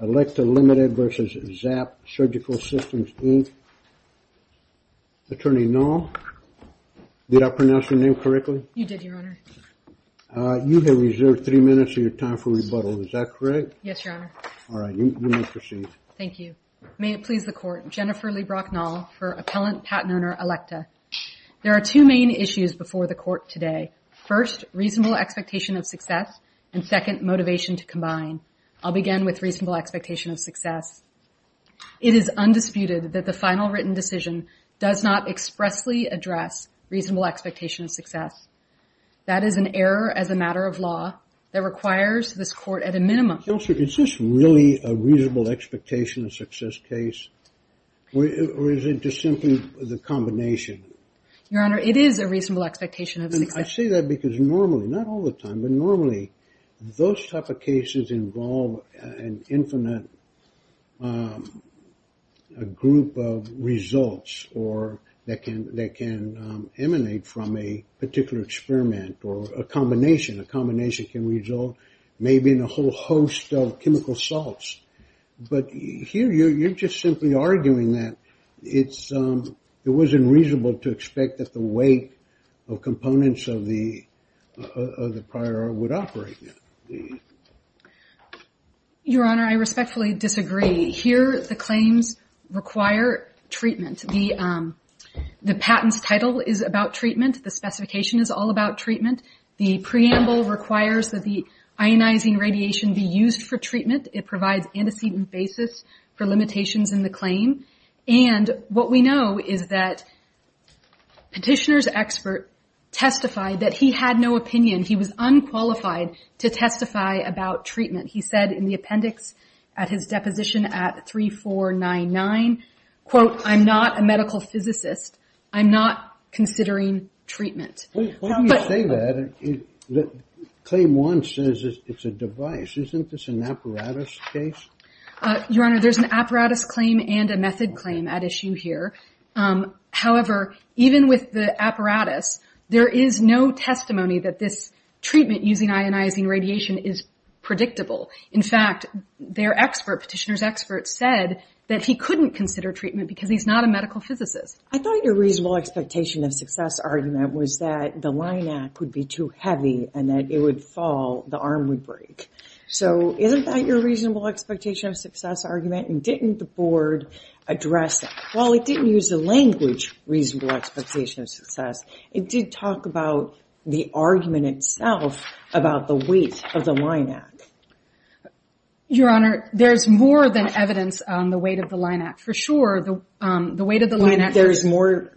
Elekta Limited v. ZAP Surgical Systems, Inc. Attorney Nall, did I pronounce your name correctly? You did, Your Honor. You have reserved three minutes of your time for rebuttal. Is that correct? Yes, Your Honor. All right, you may proceed. Thank you. May it please the Court, Jennifer LeBrock Nall for Appellant Patent Owner, Elekta. There are two main issues before the Court today. First, reasonable expectation of success and second, motivation to combine. I'll begin with reasonable expectation of success. It is undisputed that the final written decision does not expressly address reasonable expectation of success. That is an error as a matter of law that requires this Court at a minimum. Counselor, is this really a reasonable expectation of success case? Or is it just simply the combination? Your Honor, it is a reasonable expectation of success. I say that because normally, not all the time, but normally those type of cases involve an infinite group of results or that can emanate from a particular experiment or a combination. A combination can result maybe in a whole host of chemical salts. But here, you're just simply arguing that it's not the way that most of the prior would operate. Your Honor, I respectfully disagree. Here, the claims require treatment. The patent's title is about treatment. The specification is all about treatment. The preamble requires that the ionizing radiation be used for treatment. It provides antecedent basis for limitations in the claim. And what we know is that Petitioner's expert testified that he had no opinion. He was unqualified to testify about treatment. He said in the appendix at his deposition at 3499, quote, I'm not a medical physicist. I'm not considering treatment. When you say that, claim one says it's a device. Isn't this an apparatus case? Your Honor, there's an apparatus claim and a method claim at issue here. However, even with the apparatus, there is no testimony that this treatment using ionizing radiation is predictable. In fact, their expert, Petitioner's expert said that he couldn't consider treatment because he's not a medical physicist. I thought your reasonable expectation of success argument was that the line act would be too heavy and that it would fall, the arm would break. So isn't that your reasonable expectation of success argument and didn't the board address it? Well, it didn't use the language reasonable expectation of success. It did talk about the argument itself about the weight of the line act. Your Honor, there's more than evidence on the weight of the line act. For sure, the weight of the line act. There's more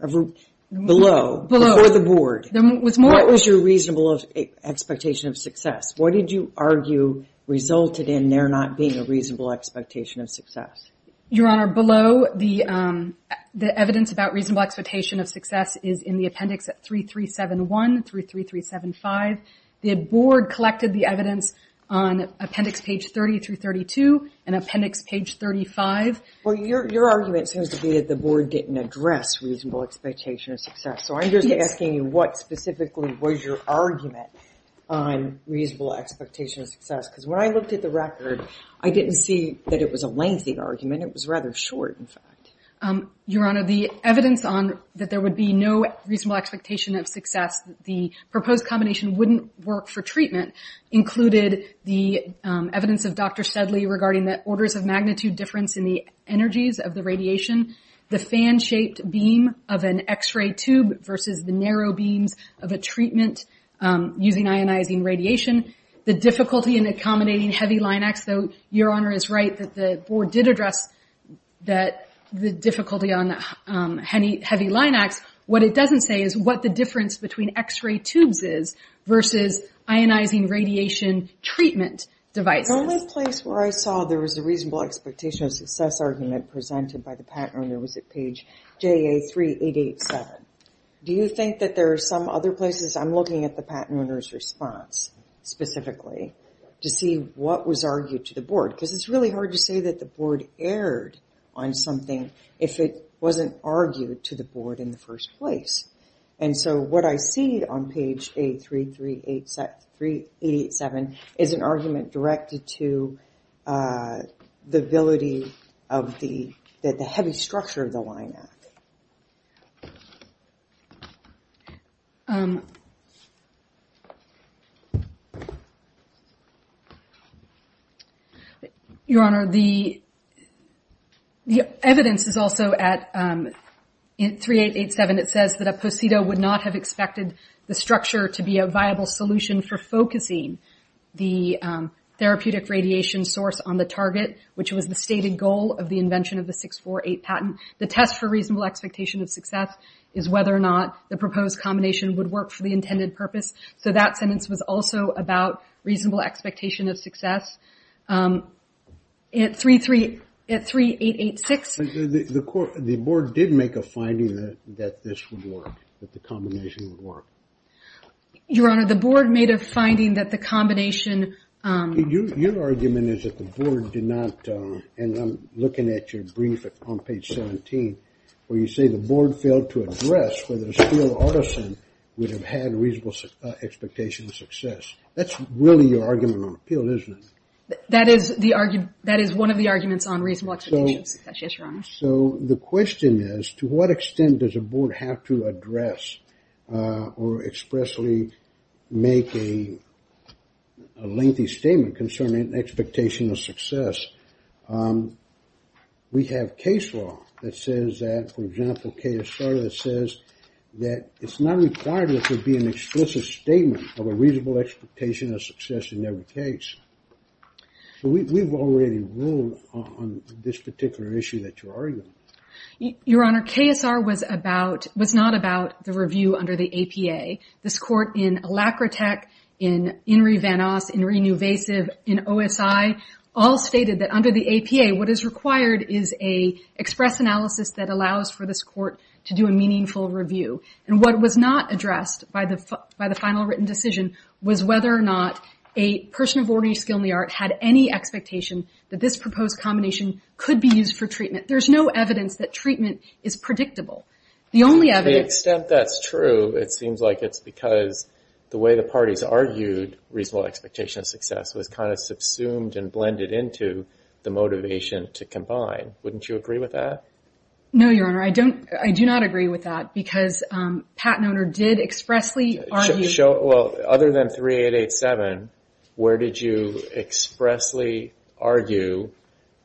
below, before the board. What was your reasonable expectation of success? What did you argue resulted in there not being a reasonable expectation of success? Your Honor, below the evidence about reasonable expectation of success is in the appendix at 3371 through 3375. The board collected the evidence on appendix page 30 through 32 and appendix page 35. Well, your argument seems to be that the board didn't address reasonable expectation of success. So I'm just asking you what specifically was your argument on reasonable expectation of success? Because when I looked at the record, I didn't see that it was a lengthy argument. It was rather short, in fact. Your Honor, the evidence on that there would be no reasonable expectation of success, the proposed combination wouldn't work for treatment, included the evidence of Dr. Sedley regarding the orders of magnitude difference in the energies of the radiation, the fan-shaped beam of an X-ray tube versus the narrow beams of a treatment using ionizing radiation, the difficulty in accommodating heavy line acts, though your Honor is right that the board did address the difficulty on heavy line acts. What it doesn't say is what the difference between X-ray tubes is versus ionizing radiation treatment devices. The only place where I saw there was a reasonable expectation of success argument presented by the patent owner was at page JA3887. Do you think that there are some other places? I'm looking at the patent owner's response. Specifically, to see what was argued to the board. Because it's really hard to say that the board erred on something if it wasn't argued to the board in the first place. And so what I see on page JA3887 is an argument directed to the ability of the heavy structure of the line act. Your Honor, the evidence is also at 3887. It says that a posito would not have expected the structure to be a viable solution for focusing the therapeutic radiation source on the target, which was the stated goal of the invention of the 648 patent. The test for reasonable expectation of success is whether or not the proposed combination would work for the intended purpose. So that sentence was also about reasonable expectation of success. At 3886. The board did make a finding that this would work, that the combination would work. Your Honor, the board made a finding that the combination... Your argument is that the board did not, and I'm looking at your brief on page 17, where you say the board failed to address whether Steele-Artisan would have had reasonable expectation of success. That's really your argument on appeal, isn't it? That is one of the arguments on reasonable expectation of success, yes, Your Honor. So the question is, to what extent does a board have to address or expressly make a lengthy statement concerning expectation of success? We have case law that says that, for example, KSR that says that it's not required for it to be an explicit statement of a reasonable expectation of success in every case. So we've already ruled on this particular issue that you're arguing. Your Honor, KSR was not about the review under the APA. This court in Alacrotec, in Inri Van Os, in Inri Nuvasiv, in OSI, all stated that under the APA, what is required is a express analysis that allows for this court to do a meaningful review. And what was not addressed by the final written decision was whether or not a person of ordinary skill in the art had any expectation that this proposed combination could be used for treatment. There's no evidence that treatment is predictable. To the extent that's true, it seems like it's because the way the parties argued reasonable expectation of success was kind of subsumed and blended into the motivation to combine. Wouldn't you agree with that? No, Your Honor, I do not agree with that because Pat and Oner did expressly argue... Well, other than 3887, where did you expressly argue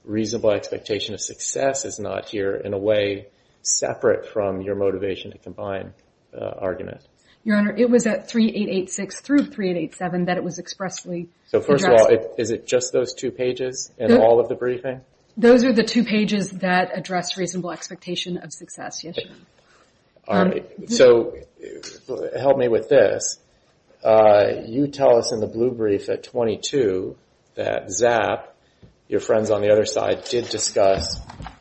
reasonable expectation of success is not here in a way separate from your motivation to combine argument? Your Honor, it was at 3886 through 3887 that it was expressly addressed. So first of all, is it just those two pages in all of the briefing? Those are the two pages that address reasonable expectation of success, yes, Your Honor. All right, so help me with this. You tell us in the blue brief at 22 that Zapp, your friends on the other side, did discuss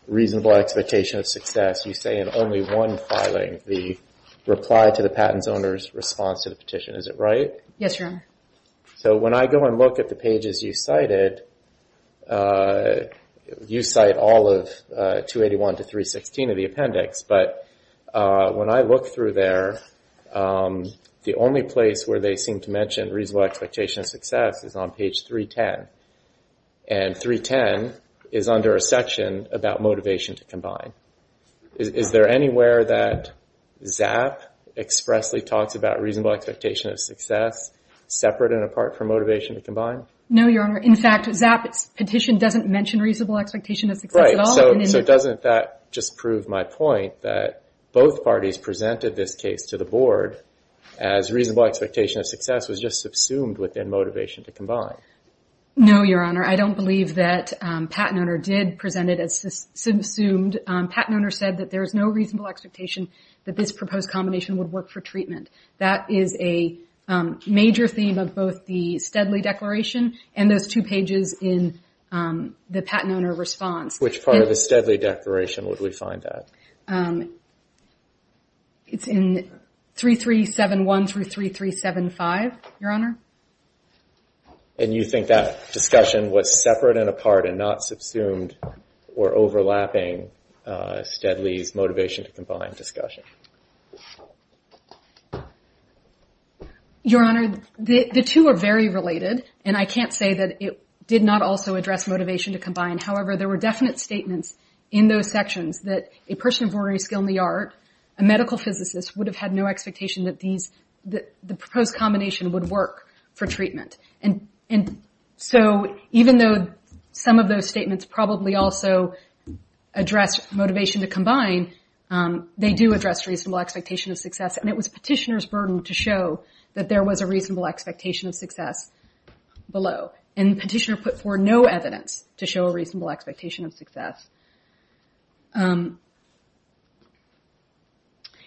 reasonable expectation of success. You say in only one filing, the reply to the patent's owner's response to the petition. Is it right? Yes, Your Honor. So when I go and look at the pages you cited, you cite all of 281 to 316 of the appendix, but when I look through there, the only place where they seem to mention reasonable expectation of success is on page 310. And 310 is under a section about motivation to combine. Is there anywhere that Zapp expressly talks about reasonable expectation of success separate and apart from motivation to combine? No, Your Honor. In fact, Zapp's petition doesn't mention reasonable expectation of success at all. So doesn't that just prove my point that both parties presented this case to the Board as reasonable expectation of success was just subsumed within motivation to combine? No, Your Honor. I don't believe that patent owner did present it as subsumed. Patent owner said that there is no reasonable expectation that this proposed combination would work for treatment. That is a major theme of both the Steadley Declaration and those two pages in the patent owner response. Which part of the Steadley Declaration would we find that? It's in 3371 through 3375, Your Honor. And you think that discussion was separate and apart and not subsumed or overlapping Steadley's motivation to combine discussion? Your Honor, the two are very related and I can't say that it did not also address motivation to combine. However, there were definite statements in those sections that a person of ordinary skill in the art, a medical physicist, would have had no expectation that the proposed combination would work for treatment. And so even though some of those statements probably also address motivation to combine, they do address reasonable expectation of success. And it was petitioner's burden to show that there was a reasonable expectation of success below. And petitioner put forward no evidence to show a reasonable expectation of success. Um...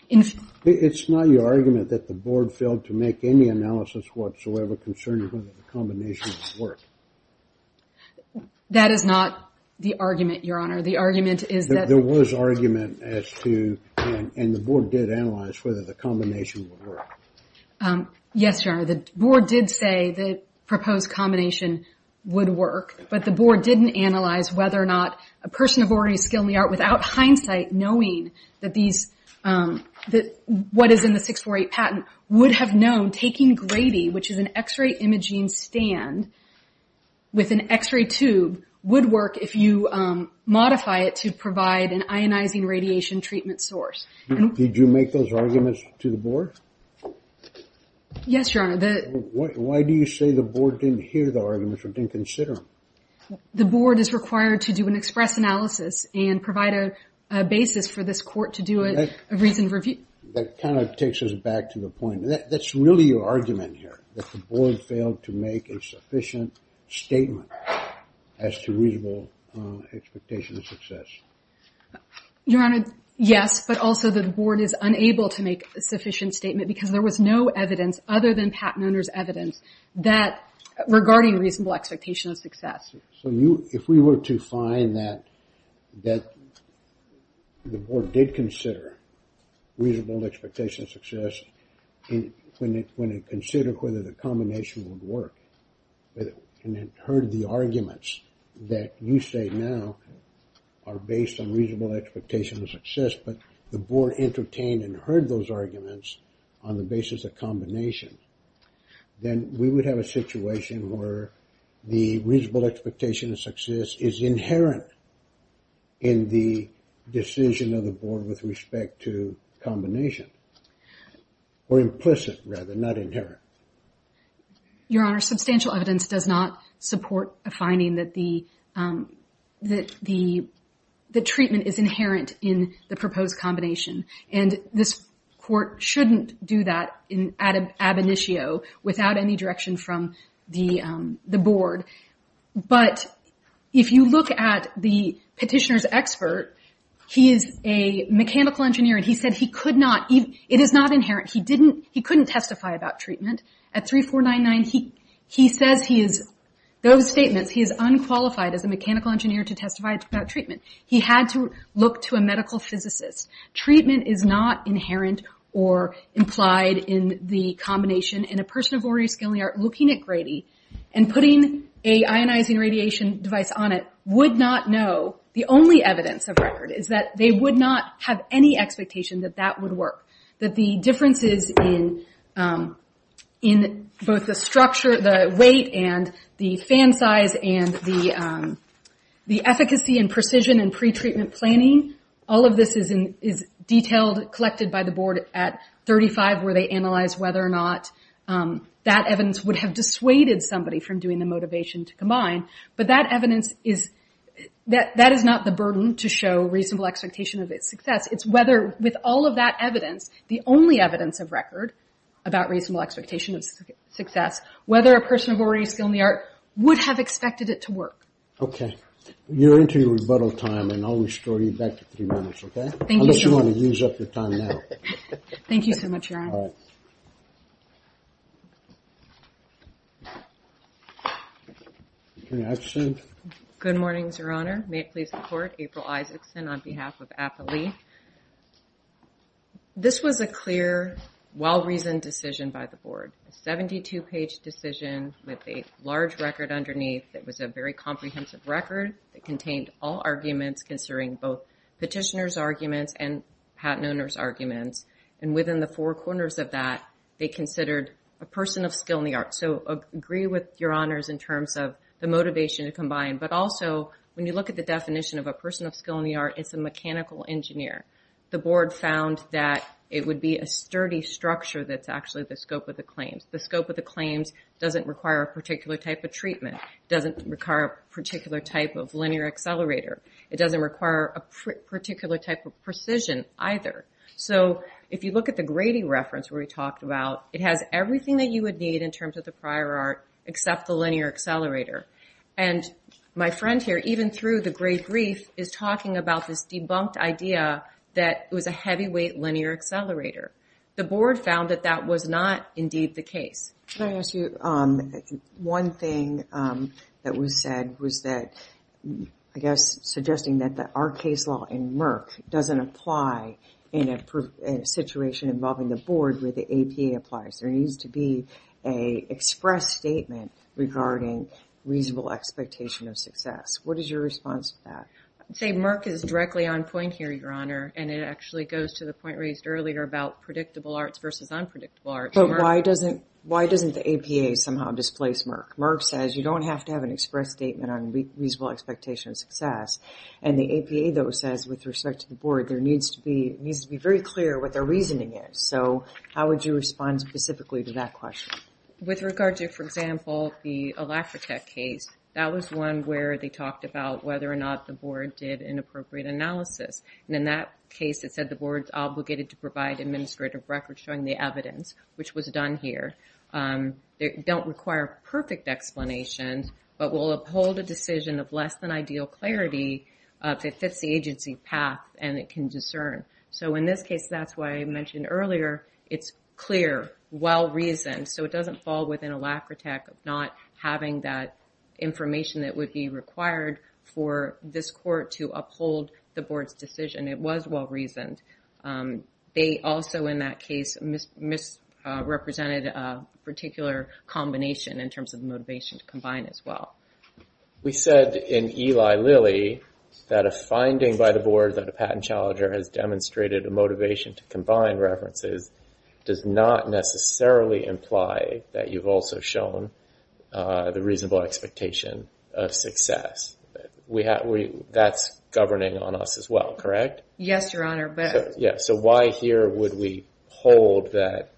It's not your argument that the board failed to make any analysis whatsoever concerning whether the combination would work. That is not the argument, Your Honor. The argument is that... There was argument as to... And the board did analyze whether the combination would work. Yes, Your Honor, the board did say the proposed combination would work. But the board didn't analyze whether or not a person of ordinary skill in the art, without hindsight, knowing what is in the 648 patent, would have known taking Grady, which is an x-ray imaging stand with an x-ray tube, would work if you modify it to provide an ionizing radiation treatment source. Did you make those arguments to the board? Yes, Your Honor. Why do you say the board didn't hear the arguments or didn't consider them? The board is required to do an express analysis and provide a basis for this court to do a reasoned review. That kind of takes us back to the point. That's really your argument here, that the board failed to make a sufficient statement as to reasonable expectation of success. Your Honor, yes, but also the board is unable to make a sufficient statement because there was no evidence other than patent owner's evidence regarding reasonable expectation of success. If we were to find that the board did consider reasonable expectation of success when it considered whether the combination would work, and it heard the arguments that you say now are based on reasonable expectation of success, but the board entertained and heard those arguments on the basis of combination, then we would have a situation where the reasonable expectation of success is inherent in the decision of the board with respect to combination, or implicit rather, not inherent. Your Honor, substantial evidence does not support a finding that the treatment is inherent in the proposed combination, and this court shouldn't do that in ab initio without any direction from the board. But if you look at the petitioner's expert, he is a mechanical engineer, and he said he could not, it is not inherent, he couldn't testify about treatment. At 3499, he says he is, those statements, he is unqualified as a mechanical engineer to testify about treatment. He had to look to a medical physicist. Treatment is not inherent or implied in the combination, and a person of ordinary skill and art looking at Grady and putting a ionizing radiation device on it would not know, the only evidence of record is that they would not have any expectation that that would work. That the differences in both the structure, the weight and the fan size, and the efficacy and precision in pretreatment planning, all of this is detailed, collected by the board at 35 where they analyze whether or not that evidence would have dissuaded somebody from doing the motivation to combine, but that evidence is, that is not the burden to show reasonable expectation of its success, it's whether with all of that evidence, the only evidence of record about reasonable expectation of success, whether a person of ordinary skill and the art would have expected it to work. Okay. You're into your rebuttal time, and I'll restore you back to three minutes, okay? Thank you, sir. Unless you want to use up your time now. Thank you so much, Your Honor. All right. Can I ask you? Good morning, Your Honor. May it please the Court, April Isaacson on behalf of APALE. This was a clear, well-reasoned decision by the board. A 72-page decision with a large record underneath that was a very comprehensive record that contained all arguments considering both petitioner's arguments and patent owner's arguments. And within the four corners of that, they considered a person of skill and the art. So I agree with Your Honors in terms of the motivation to combine, but also when you look at the definition of a person of skill and the art, it's a mechanical engineer. The board found that it would be a sturdy structure that's actually the scope of the claims. The scope of the claims doesn't require a particular type of treatment, doesn't require a particular type of linear accelerator, it doesn't require a particular type of precision either. So if you look at the Grady reference where we talked about, it has everything that you would need in terms of the prior art except the linear accelerator. And my friend here, even through the great grief, is talking about this debunked idea The board found that that was not indeed the case. Can I ask you, one thing that was said was that, I guess, suggesting that our case law in Merck doesn't apply in a situation involving the board where the APA applies. There needs to be a express statement regarding reasonable expectation of success. What is your response to that? I'd say Merck is directly on point here, Your Honor, and it actually goes to the point raised earlier about predictable arts versus unpredictable arts. But why doesn't the APA somehow displace Merck? Merck says you don't have to have an express statement on reasonable expectation of success. And the APA, though, says, with respect to the board, there needs to be very clear what their reasoning is. So how would you respond specifically to that question? With regard to, for example, the Alacrotec case, that was one where they talked about whether or not the board did inappropriate analysis. And in that case, it said the board's obligated to provide administrative records showing the evidence, which was done here. They don't require perfect explanation, but will uphold a decision of less than ideal clarity if it fits the agency path and it can discern. So in this case, that's why I mentioned earlier, it's clear, well-reasoned, so it doesn't fall within Alacrotec not having that information that would be required for this court to uphold the board's decision. It was well-reasoned. They also, in that case, misrepresented a particular combination in terms of motivation to combine as well. We said in Eli Lilly that a finding by the board that a patent challenger has demonstrated a motivation to combine references does not necessarily imply that you've also shown the reasonable expectation of success. That's governing on us as well, correct? Yes, Your Honor. So why here would we hold that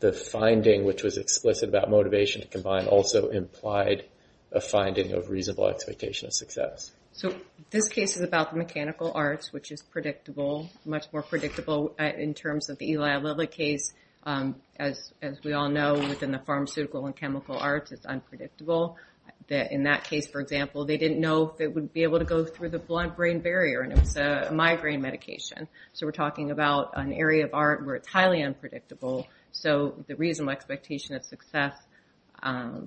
the finding, which was explicit about motivation to combine, also implied a finding of reasonable expectation of success? So this case is about the mechanical arts, which is predictable, much more predictable in terms of the Eli Lilly case. As we all know, within the pharmaceutical and chemical arts, it's unpredictable. In that case, for example, they didn't know they would be able to go through the blunt brain barrier, and it was a migraine medication. So we're talking about an area of art where it's highly unpredictable. So the reasonable expectation of success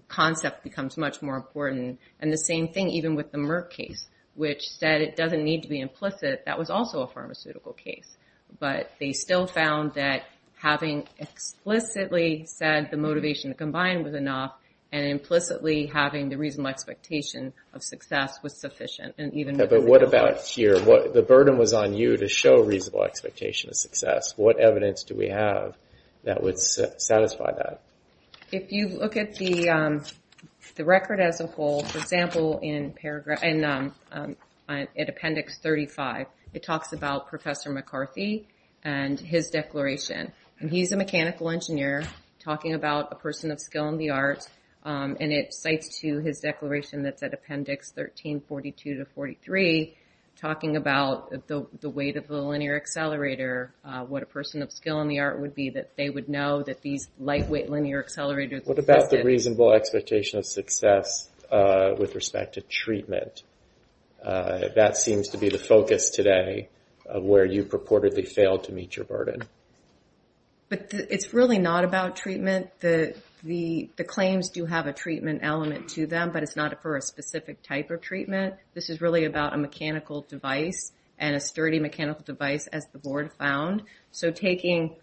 concept becomes much more important. And the same thing even with the Merck case, which said it doesn't need to be implicit. That was also a pharmaceutical case. But they still found that having explicitly said the motivation to combine was enough and implicitly having the reasonable expectation of success was sufficient. But what about here? The burden was on you to show reasonable expectation of success. What evidence do we have that would satisfy that? If you look at the record as a whole, for example, in appendix 35, it talks about Professor McCarthy and his declaration. And he's a mechanical engineer talking about a person of skill in the arts, and it cites to his declaration that's at appendix 1342-43, talking about the weight of the linear accelerator, what a person of skill in the art would be, that they would know that these lightweight linear accelerators... What about the reasonable expectation of success with respect to treatment? That seems to be the focus today of where you purportedly failed to meet your burden. But it's really not about treatment. The claims do have a treatment element to them, but it's not for a specific type of treatment. This is really about a mechanical device and a sturdy mechanical device, as the board found. So taking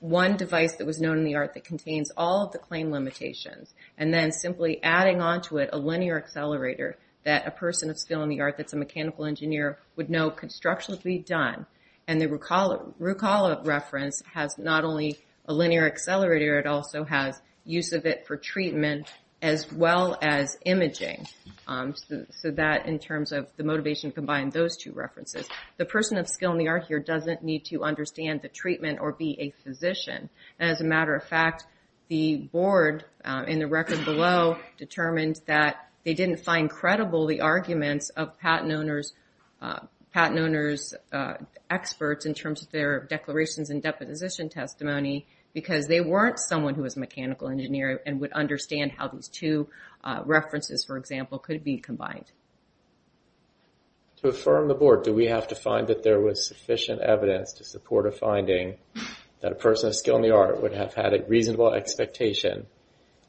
one device that was known in the art that contains all of the claim limitations, and then simply adding onto it a linear accelerator that a person of skill in the art that's a mechanical engineer would know could structurally be done. And the Rucola reference has not only a linear accelerator, it also has use of it for treatment, as well as imaging. So that, in terms of the motivation combined, those two references. The person of skill in the art here doesn't need to understand the treatment or be a physician. As a matter of fact, the board, in the record below, determined that they didn't find credible the arguments of patent owners' experts in terms of their declarations and deposition testimony because they weren't someone who was a mechanical engineer and would understand how these two references, for example, could be combined. To affirm the board, do we have to find that there was sufficient evidence to support a finding that a person of skill in the art would have had a reasonable expectation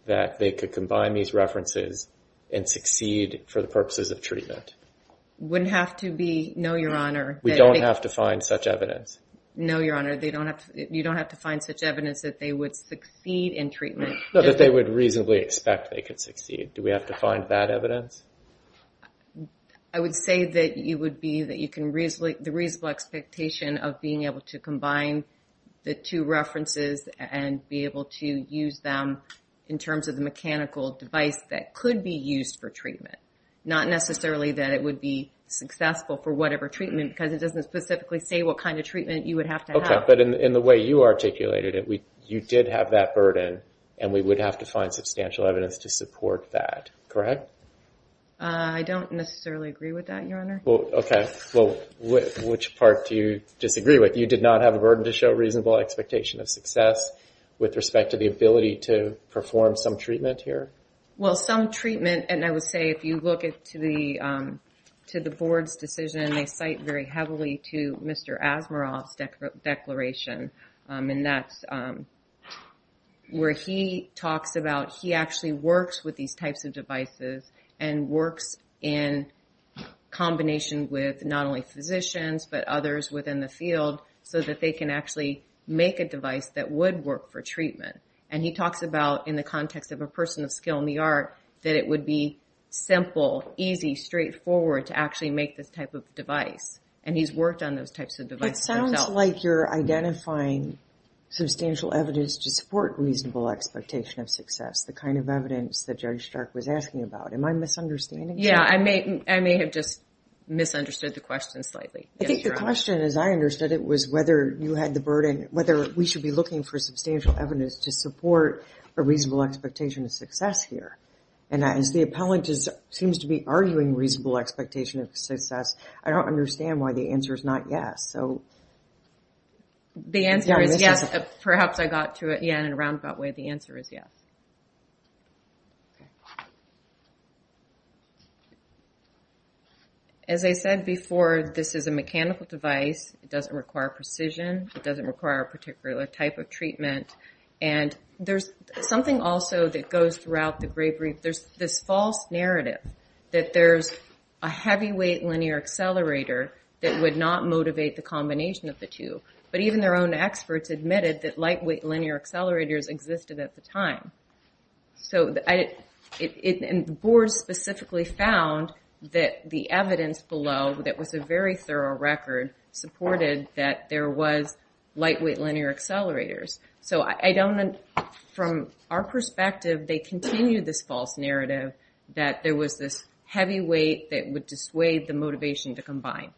that they could combine these references and succeed for the purposes of treatment? Wouldn't have to be, no, Your Honor. We don't have to find such evidence? No, Your Honor. You don't have to find such evidence that they would succeed in treatment. No, that they would reasonably expect they could succeed. Do we have to find that evidence? I would say that you would be... that you can reasonably... the reasonable expectation of being able to combine the two references and be able to use them in terms of the mechanical device that could be used for treatment. Not necessarily that it would be successful for whatever treatment because it doesn't specifically say what kind of treatment you would have to have. But in the way you articulated it, you did have that burden and we would have to find substantial evidence to support that, correct? I don't necessarily agree with that, Your Honor. Okay. Well, which part do you disagree with? You did not have a burden to show reasonable expectation of success with respect to the ability to perform some treatment here? Well, some treatment... and I would say if you look to the board's decision, and they cite very heavily to Mr. Asimov's declaration, and that's where he talks about... he actually works with these types of devices and works in combination with not only physicians but others within the field so that they can actually make a device that would work for treatment. And he talks about, in the context of a person of skill in the art, that it would be simple, easy, straightforward to actually make this type of device. And he's worked on those types of devices himself. It sounds like you're identifying substantial evidence to support reasonable expectation of success, the kind of evidence that Judge Stark was asking about. Am I misunderstanding something? Yeah, I may have just misunderstood the question slightly. I think the question, as I understood it, was whether you had the burden... whether we should be looking for substantial evidence to support a reasonable expectation of success here. And as the appellant seems to be arguing reasonable expectation of success, I don't understand why the answer is not yes. The answer is yes. Perhaps I got to it in a roundabout way. The answer is yes. As I said before, this is a mechanical device. It doesn't require a particular type of treatment. And there's something also that goes throughout the grave reef. There's this false narrative that there's a heavyweight linear accelerator that would not motivate the combination of the two. But even their own experts admitted that lightweight linear accelerators existed at the time. And the board specifically found that the evidence below, that was a very thorough record, supported that there was lightweight linear accelerators. So I don't... From our perspective, they continue this false narrative that there was this heavyweight that would dissuade the motivation to combine.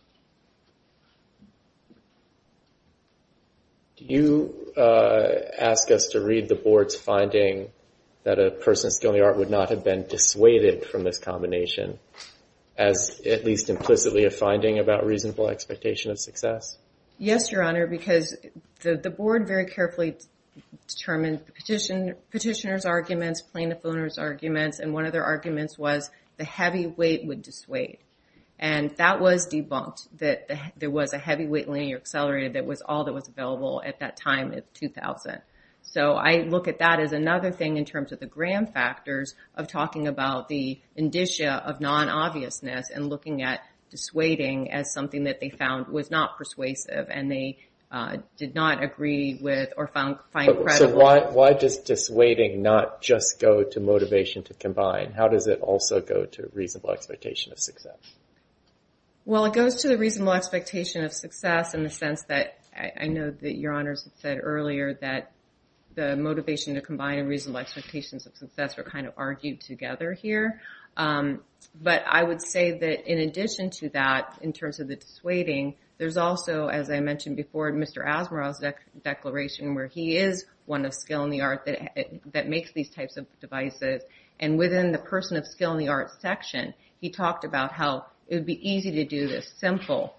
Do you ask us to read the board's finding that a person of skill and the art would not have been dissuaded from this combination as at least implicitly a finding about reasonable expectation of success? Yes, Your Honor, because the board very carefully determined the petitioner's arguments, plaintiff owner's arguments. And one of their arguments was the heavyweight would dissuade. And that was debunked, that there was a heavyweight linear accelerator that was all that was available at that time of 2000. So I look at that as another thing in terms of the gram factors of talking about the indicia of non-obviousness and looking at dissuading as something that they found was not persuasive. And they did not agree with or find credible... So why does dissuading not just go to motivation to combine? How does it also go to reasonable expectation of success? Well, it goes to the reasonable expectation of success in the sense that... I know that Your Honors had said earlier that the motivation to combine and reasonable expectations of success were kind of argued together here. But I would say that in addition to that, in terms of the dissuading, there's also, as I mentioned before, Mr. Asimov's declaration where he is one of skill in the art that makes these types of devices. And within the person of skill in the art section, he talked about how it would be easy to do this simple,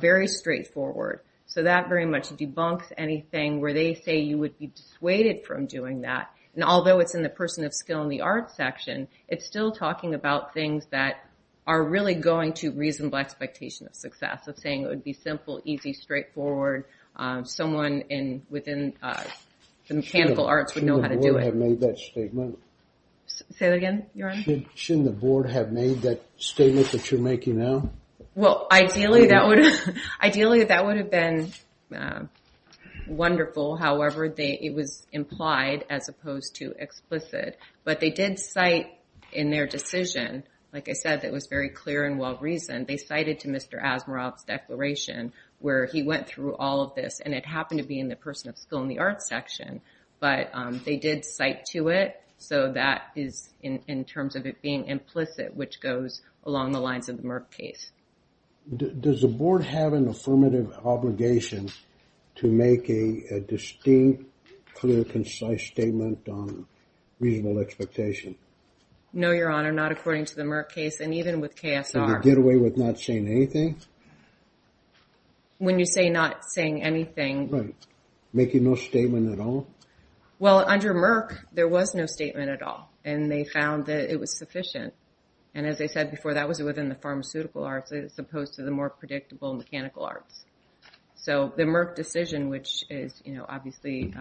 very straightforward. So that very much debunks anything where they say you would be dissuaded from doing that. And although it's in the person of skill in the art section, it's still talking about things that are really going to reasonable expectation of success. It's saying it would be simple, easy, straightforward. Someone within the mechanical arts would know how to do it. Shouldn't the board have made that statement? Say that again, Your Honor? Shouldn't the board have made that statement that you're making now? Well, ideally, that would have been wonderful. However, it was implied as opposed to explicit. But they did cite in their decision, like I said, that was very clear and well-reasoned, they cited to Mr. Asimov's declaration where he went through all of this, and it happened to be in the person of skill in the art section. But they did cite to it, so that is in terms of it being implicit, which goes along the lines of the Merck case. Does the board have an affirmative obligation to make a distinct, clear, concise statement on reasonable expectation? No, Your Honor, not according to the Merck case, and even with KSR. Did they get away with not saying anything? When you say not saying anything... Right, making no statement at all? Well, under Merck, there was no statement at all, and they found that it was sufficient. And as I said before, that was within the pharmaceutical arts as opposed to the more predictable mechanical arts. So the Merck decision, which is obviously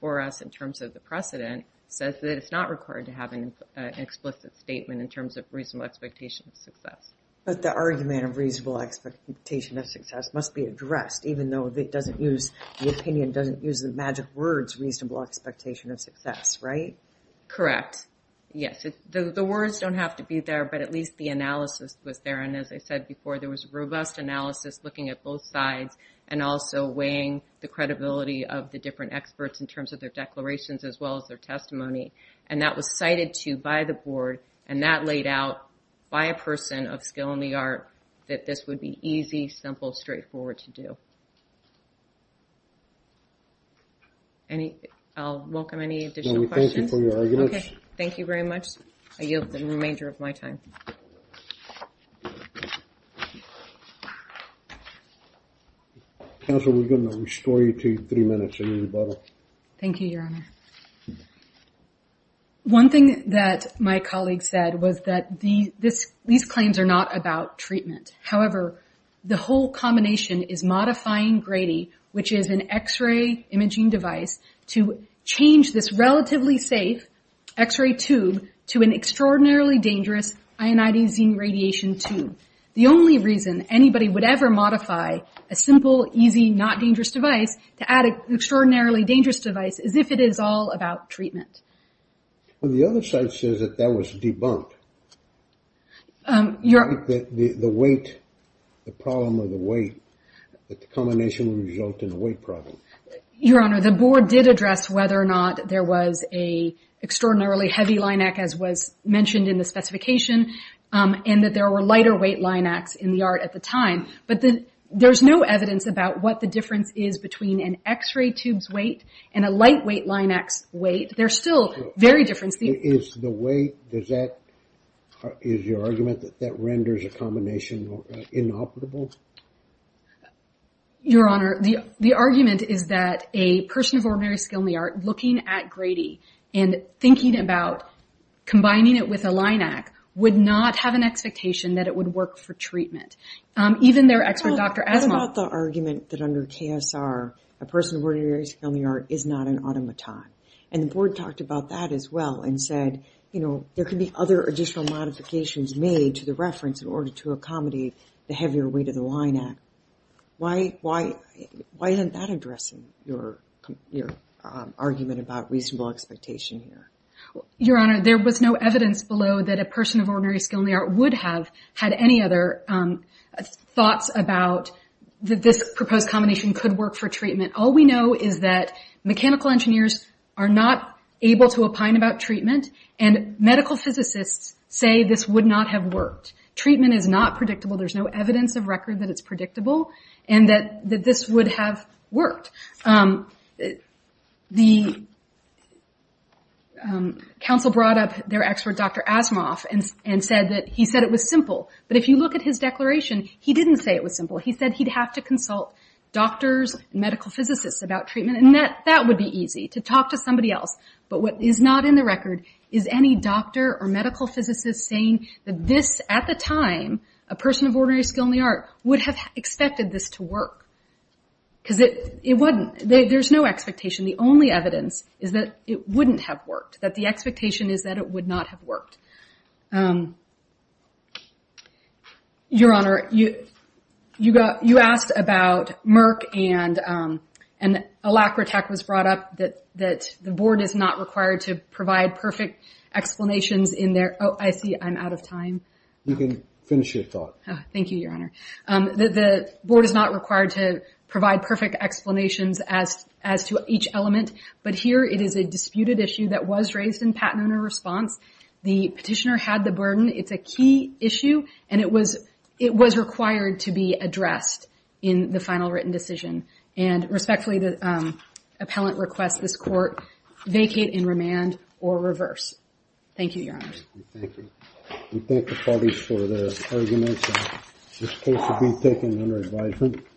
for us in terms of the precedent, says that it's not required to have an explicit statement in terms of reasonable expectation of success. But the argument of reasonable expectation of success must be addressed, even though the opinion doesn't use the magic words reasonable expectation of success, right? Correct, yes. The words don't have to be there, but at least the analysis was there. And as I said before, there was robust analysis looking at both sides, and also weighing the credibility of the different experts in terms of their declarations as well as their testimony. And that was cited to by the board, and that laid out by a person of skill in the art that this would be easy, simple, straightforward to do. I'll welcome any additional questions. Thank you for your arguments. Okay, thank you very much. I yield the remainder of my time. Counsel, we're going to restore you to three minutes. Thank you, Your Honor. One thing that my colleague said was that these claims are not about treatment. However, the whole combination is modifying Grady, which is an X-ray imaging device, to change this relatively safe X-ray tube to an extraordinarily dangerous ionizing radiation tube. The only reason anybody would ever modify a simple, easy, not dangerous device to add an extraordinarily dangerous device is if it is all about treatment. Well, the other side says that that was debunked. The weight, the problem with the weight, that the combination would result in a weight problem. Your Honor, the board did address whether or not there was an extraordinarily heavy line act, as was mentioned in the specification, and that there were lighter weight line acts in the art at the time. But there's no evidence about what the difference is between an X-ray tube's weight and a lightweight line act's weight. There's still very different... Is the weight... Is your argument that that renders a combination inoperable? Your Honor, the argument is that a person of ordinary skill in the art looking at Grady and thinking about combining it with a line act would not have an expectation that it would work for treatment. Even their expert, Dr. Asimov... A person of ordinary skill in the art is not an automaton. And the board talked about that as well and said, you know, there could be other additional modifications made to the reference in order to accommodate the heavier weight of the line act. Why isn't that addressing your argument about reasonable expectation here? Your Honor, there was no evidence below that a person of ordinary skill in the art would have had any other thoughts about that this proposed combination could work for treatment. All we know is that mechanical engineers are not able to opine about treatment, and medical physicists say this would not have worked. Treatment is not predictable. There's no evidence of record that it's predictable and that this would have worked. The counsel brought up their expert, Dr. Asimov, and said that he said it was simple. But if you look at his declaration, he didn't say it was simple. He said he'd have to consult doctors and medical physicists about treatment, and that would be easy, to talk to somebody else. But what is not in the record is any doctor or medical physicist saying that this, at the time, a person of ordinary skill in the art, would have expected this to work. Because it wasn't... There's no expectation. The only evidence is that it wouldn't have worked, that the expectation is that it would not have worked. Your Honor, you asked about Merck, and Alacratech was brought up, that the board is not required to provide perfect explanations in their... Oh, I see, I'm out of time. You can finish your talk. Thank you, Your Honor. The board is not required to provide perfect explanations as to each element, but here it is a disputed issue that was raised in Pat Noonan's response. The petitioner had the burden. It's a key issue, and it was required to be addressed in the final written decision. And respectfully, the appellant requests this court vacate in remand or reverse. Thank you, Your Honor. Thank you. We thank the parties for their arguments. This case will be taken under advisement.